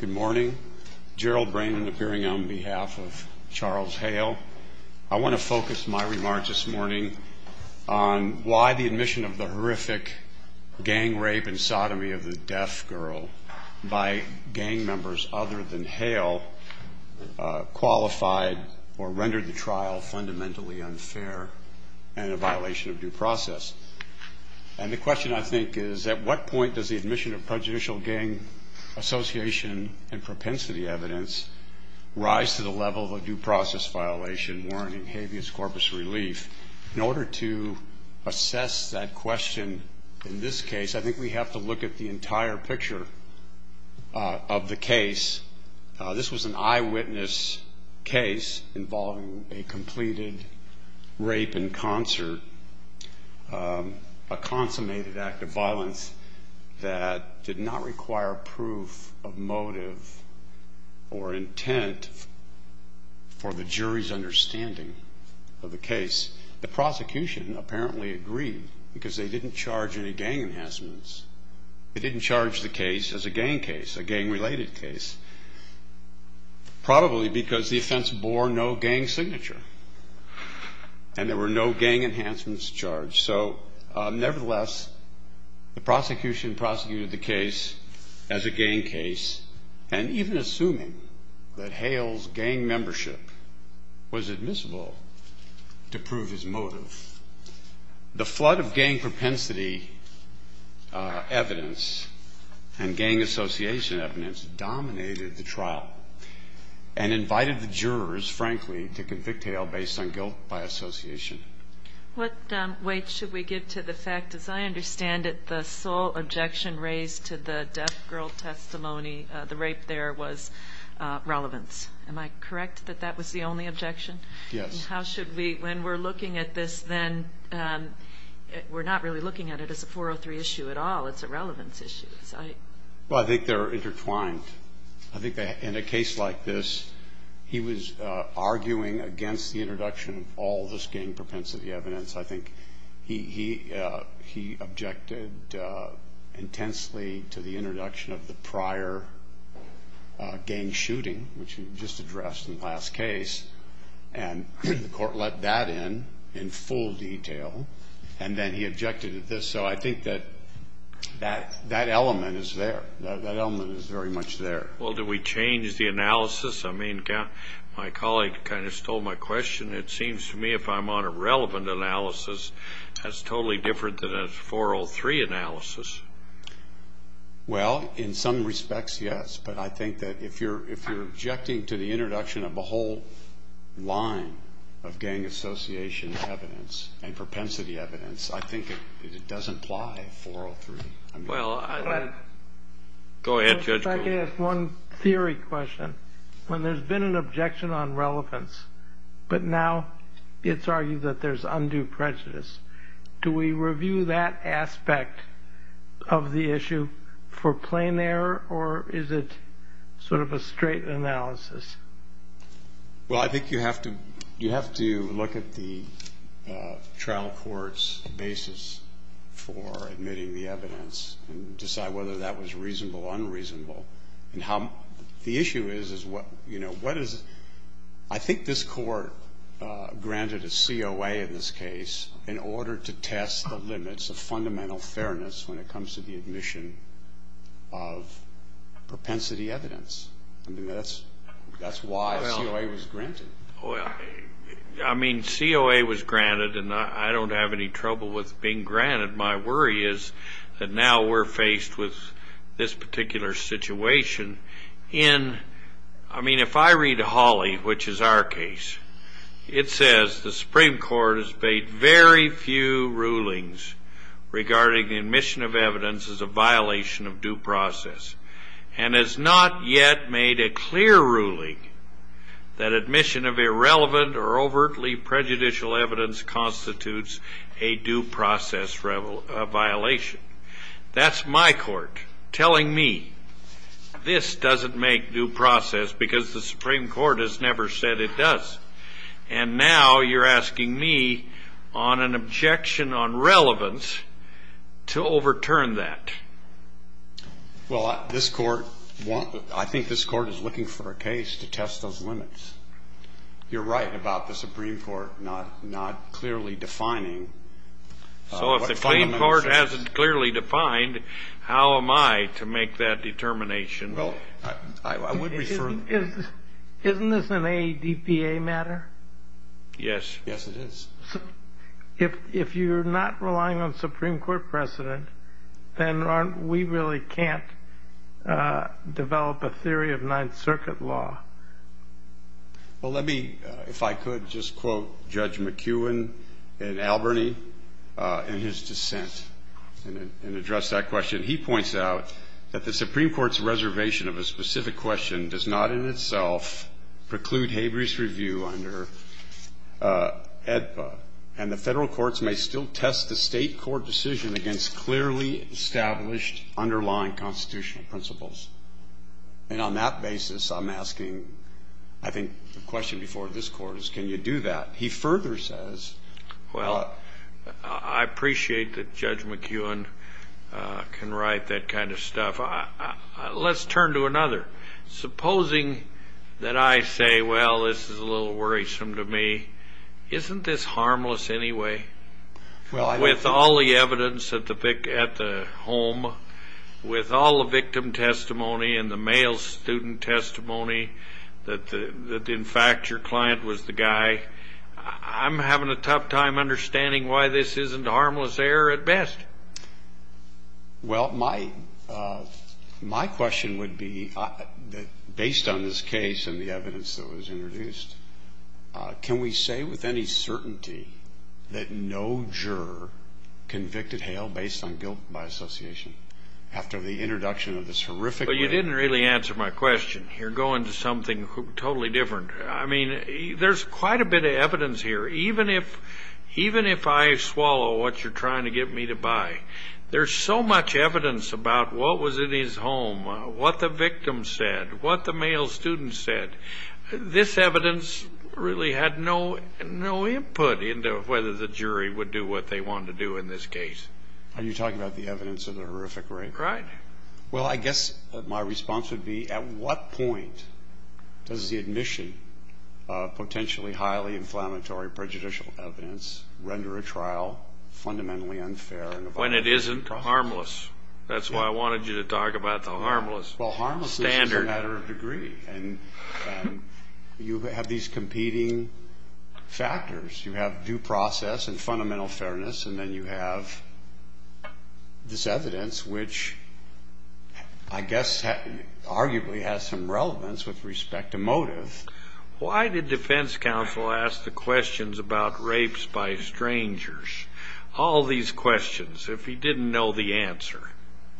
Good morning. Gerald Brannan appearing on behalf of Charles Hale. I want to focus my remarks this morning on why the admission of the horrific gang rape and sodomy of the deaf girl by gang members other than Hale qualified or rendered the trial fundamentally unfair and a violation of due process. And the question, I think, is at what point does the admission of prejudicial gang association and propensity evidence rise to the level of a due process violation warranting habeas corpus relief? In order to assess that question in this case, I think we have to look at the entire picture of the case. This was an eyewitness case involving a completed rape in concert, a consummated act of violence that did not require proof of motive or intent for the jury's understanding of the case. The prosecution apparently agreed because they didn't charge any gang enhancements. They didn't charge the case as a gang case, a gang-related case, probably because the offense bore no gang signature and there were no gang enhancements charged. So nevertheless, the prosecution prosecuted the case as a gang case and even assuming that Hale's gang membership was admissible to prove his motive. The flood of gang propensity evidence and gang association evidence dominated the trial and invited the jurors, frankly, to convict Hale based on guilt by association. What weight should we give to the fact, as I understand it, the sole objection raised to the deaf girl testimony, the rape there, was relevance. Am I correct that that was the only objection? Yes. How should we, when we're looking at this then, we're not really looking at it as a 403 issue at all. It's a relevance issue. Well, I think they're intertwined. I think in a case like this, he was arguing against the introduction of all this gang propensity evidence. I think he objected intensely to the introduction of the prior gang shooting, which he just addressed in the last case, and the court let that in, in full detail, and then he objected to this. So I think that that element is there. That element is very much there. Well, do we change the analysis? I mean, my colleague kind of stole my question. It seems to me if I'm on a relevant analysis, that's totally different than a 403 analysis. Well, in some respects, yes, but I think that if you're objecting to the introduction of a whole line of gang association evidence and propensity evidence, I think it doesn't apply to 403. Go ahead, Judge Goldberg. If I could ask one theory question. When there's been an objection on relevance, but now it's argued that there's undue prejudice, do we review that aspect of the issue for plain error, or is it sort of a straight analysis? Well, I think you have to look at the trial court's basis for admitting the evidence and decide whether that was reasonable or unreasonable. And the issue is, I think this court granted a COA in this case in order to test the limits of fundamental fairness when it comes to the admission of propensity evidence. I mean, that's why COA was granted. Well, I mean, COA was granted, and I don't have any trouble with being granted. My worry is that now we're faced with this particular situation in, I mean, if I read Hawley, which is our case, it says the Supreme Court has made very few rulings regarding the admission of evidence as a violation of due process, and has not yet made a clear ruling that admission of irrelevant or overtly prejudicial evidence constitutes a due process violation. That's my court telling me this doesn't make due process because the Supreme Court has never said it does. And now you're asking me on an objection on relevance to overturn that. Well, this court, I think this court is looking for a case to test those limits. You're right about the Supreme Court not clearly defining. So if the Supreme Court hasn't clearly defined, how am I to make that determination? Well, I would refer. Isn't this an ADPA matter? Yes. Yes, it is. If you're not relying on Supreme Court precedent, then we really can't develop a theory of Ninth Circuit law. Well, let me, if I could, just quote Judge McEwen in Albany in his dissent and address that question. He points out that the Supreme Court's reservation of a specific question does not in itself preclude Haber's review under ADPA, and the federal courts may still test the state court decision against clearly established underlying constitutional principles. And on that basis, I'm asking, I think the question before this court is, can you do that? He further says. Well, I appreciate that Judge McEwen can write that kind of stuff. Let's turn to another. Supposing that I say, well, this is a little worrisome to me. Isn't this harmless anyway? Well, with all the evidence at the home, with all the victim testimony and the male student testimony that in fact your client was the guy, I'm having a tough time understanding why this isn't harmless error at best. Well, my question would be, based on this case and the evidence that was introduced, can we say with any certainty that no juror convicted Hale based on guilt by association after the introduction of this horrific way? Well, you didn't really answer my question. You're going to something totally different. I mean, there's quite a bit of evidence here. Even if I swallow what you're trying to get me to buy, there's so much evidence about what was in his home, what the victim said, what the male student said. This evidence really had no input into whether the jury would do what they wanted to do in this case. Are you talking about the evidence of the horrific rape? Right. Well, I guess my response would be, at what point does the admission of potentially highly inflammatory prejudicial evidence render a trial fundamentally unfair? When it isn't harmless. That's why I wanted you to talk about the harmless standard. It's a matter of degree. And you have these competing factors. You have due process and fundamental fairness. And then you have this evidence, which I guess arguably has some relevance with respect to motive. Why did defense counsel ask the questions about rapes by strangers? All these questions, if he didn't know the answer.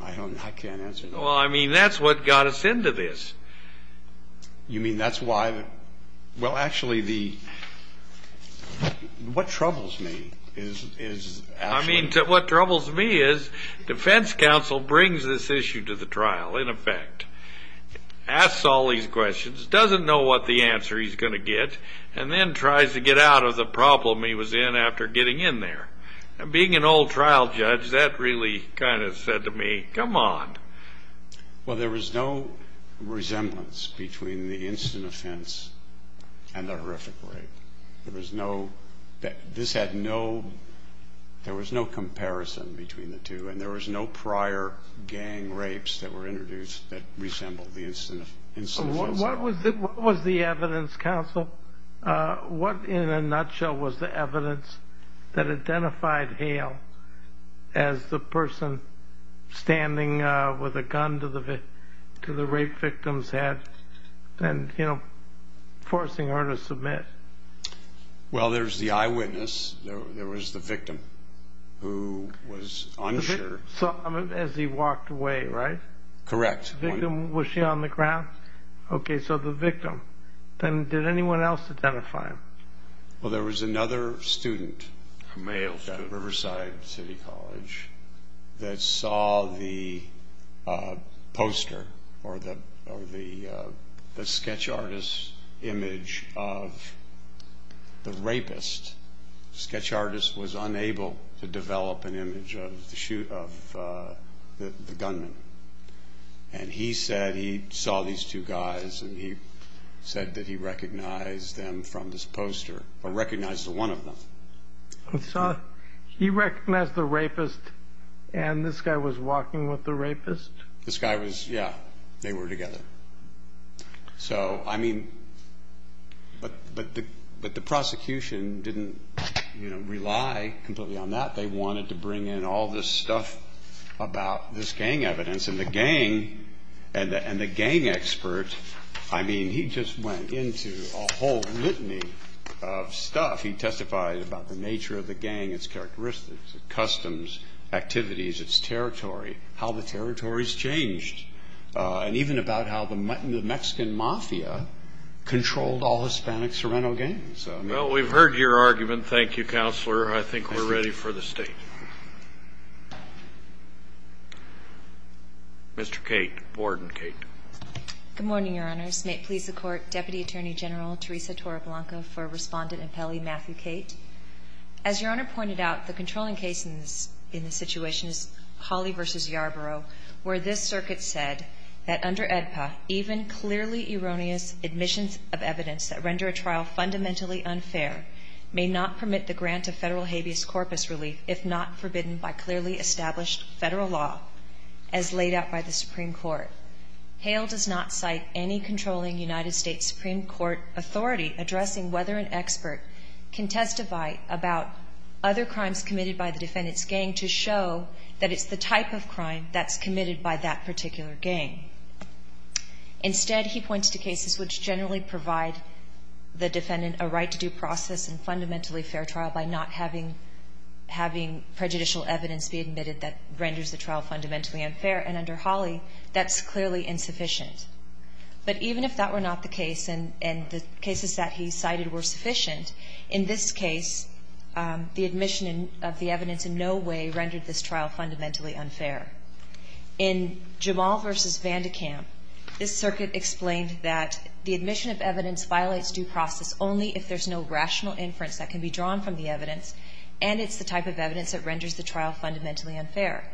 I don't know. I can't answer that. Well, I mean, that's what got us into this. You mean that's why? Well, actually, what troubles me is defense counsel brings this issue to the trial, in effect, asks all these questions, doesn't know what the answer he's going to get, and then tries to get out of the problem he was in after getting in there. Being an old trial judge, that really kind of said to me, come on. Well, there was no resemblance between the instant offense and the horrific rape. There was no, this had no, there was no comparison between the two. And there was no prior gang rapes that were introduced that resembled the instant offense. What was the evidence, counsel? What, in a nutshell, was the evidence that identified Hale as the person standing with a gun to the rape victim's head and, you know, forcing her to submit? Well, there's the eyewitness. There was the victim who was unsure. So, as he walked away, right? Correct. The victim, was she on the ground? Okay, so the victim. Then did anyone else identify him? Well, there was another student, a male student at Riverside City College, that saw the poster or the sketch artist's image of the rapist. Sketch artist was unable to develop an image of the gunman. And he said he saw these two guys and he said that he recognized them from this poster, or recognized one of them. He saw, he recognized the rapist and this guy was walking with the rapist? This guy was, yeah, they were together. So, I mean, but the prosecution didn't rely completely on that. They wanted to bring in all this stuff about this gang evidence. And the gang, and the gang expert, I mean, he just went into a whole litany of stuff. He testified about the nature of the gang, its characteristics, customs, activities, its territory, how the territories changed, and even about how the Mexican mafia controlled all Hispanic Sorrento gangs. Well, we've heard your argument. Thank you, Counselor. I think we're ready for the State. Mr. Cate, Warden Cate. Good morning, Your Honors. May it please the Court, Deputy Attorney General Teresa Torreblanca for Respondent and Pele, Matthew Cate. As Your Honor pointed out, the controlling case in this situation is Hawley v. Yarborough, where this circuit said that under AEDPA, even clearly erroneous admissions of evidence that render a trial fundamentally unfair may not permit the grant of federal habeas corpus relief if not forbidden by clearly established federal law as laid out by the Supreme Court. Hale does not cite any controlling United States Supreme Court authority addressing whether an expert can testify about other crimes committed by the defendant's gang to show that it's the type of crime that's committed by that particular gang. Instead, he points to cases which generally provide the defendant a right to due process and fundamentally fair trial by not having prejudicial evidence be admitted that renders the trial fundamentally unfair, and under Hawley, that's clearly insufficient. But even if that were not the case and the cases that he cited were sufficient, in this case, the admission of the evidence in no way rendered this trial fundamentally unfair. In Jamal v. Vandekamp, this circuit explained that the admission of evidence violates due process only if there's no rational inference that can be drawn from the evidence and it's the type of evidence that renders the trial fundamentally unfair.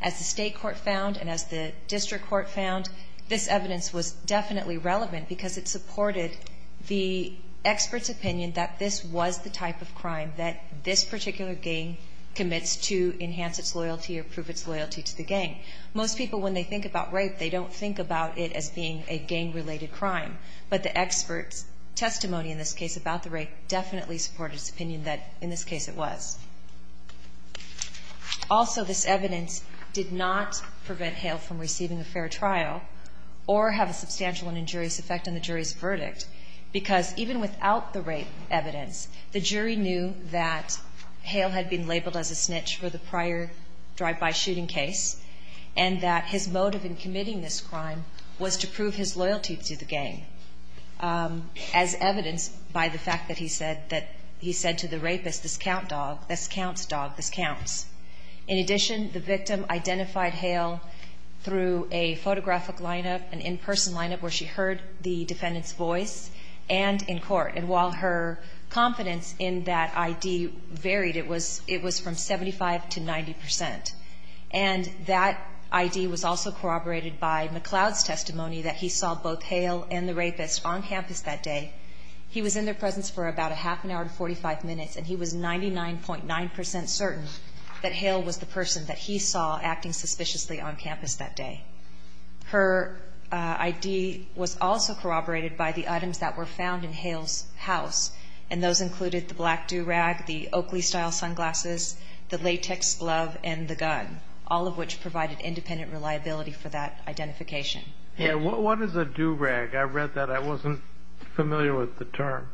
As the state court found and as the district court found, this evidence was definitely relevant because it supported the expert's opinion that this was the type of crime that this particular gang commits to enhance its loyalty or prove its loyalty to the gang. Most people, when they think about rape, they don't think about it as being a gang-related crime, but the expert's testimony in this case about the rape definitely supported his opinion that in this case it was. Also, this evidence did not prevent Hale from receiving a fair trial or have a substantial and injurious effect on the jury's verdict because even without the rape evidence, the jury knew that Hale had been labeled as a snitch for the prior drive-by shooting case and that his motive in committing this crime was to prove his loyalty to the gang, as evidenced by the fact that he said that he said to the rapist, this counts, dog. This counts, dog. This counts. In addition, the victim identified Hale through a photographic lineup, an in-person lineup where she heard the defendant's voice and in court. And while her confidence in that ID varied, it was from 75 to 90 percent. And that ID was also corroborated by McLeod's testimony that he saw both Hale and the rapist on campus that day. He was in their presence for about a half an hour and 45 minutes, and he was 99.9 percent certain that Hale was the person that he saw acting suspiciously on campus that day. Her ID was also corroborated by the items that were found in Hale's house, and those included the black do-rag, the Oakley-style sunglasses, the latex glove, and the gun, all of which provided independent reliability for that identification. Yeah, what is a do-rag? I read that. I wasn't familiar with the term.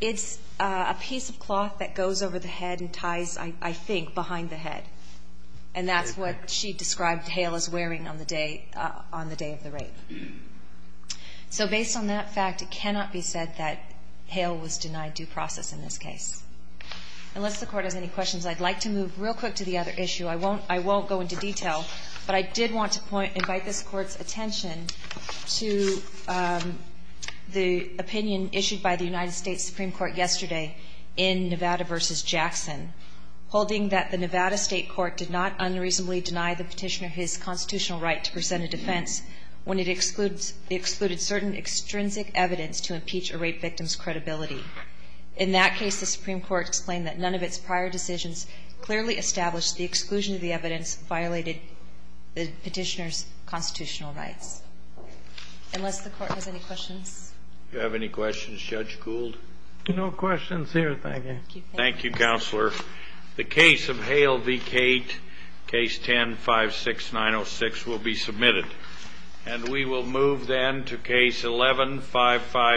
It's a piece of cloth that goes over the head and ties, I think, behind the head. And that's what she described Hale as wearing on the day of the rape. So based on that fact, it cannot be said that Hale was denied due process in this case. Unless the Court has any questions, I'd like to move real quick to the other issue. I won't go into detail, but I did want to invite this Court's attention to the opinion issued by the United States Supreme Court yesterday in Nevada v. Jackson, holding that the Nevada State Court did not unreasonably deny the Petitioner his constitutional right to present a defense when it excluded certain extrinsic evidence to impeach a rape victim's credibility. In that case, the Supreme Court explained that none of its prior decisions clearly established the exclusion of the evidence violated the Petitioner's constitutional rights. Unless the Court has any questions. Do you have any questions, Judge Gould? No questions here, thank you. Thank you, Counselor. The case of Hale v. Cate, Case 10-56906, will be submitted. And we will move then to Case 11-559.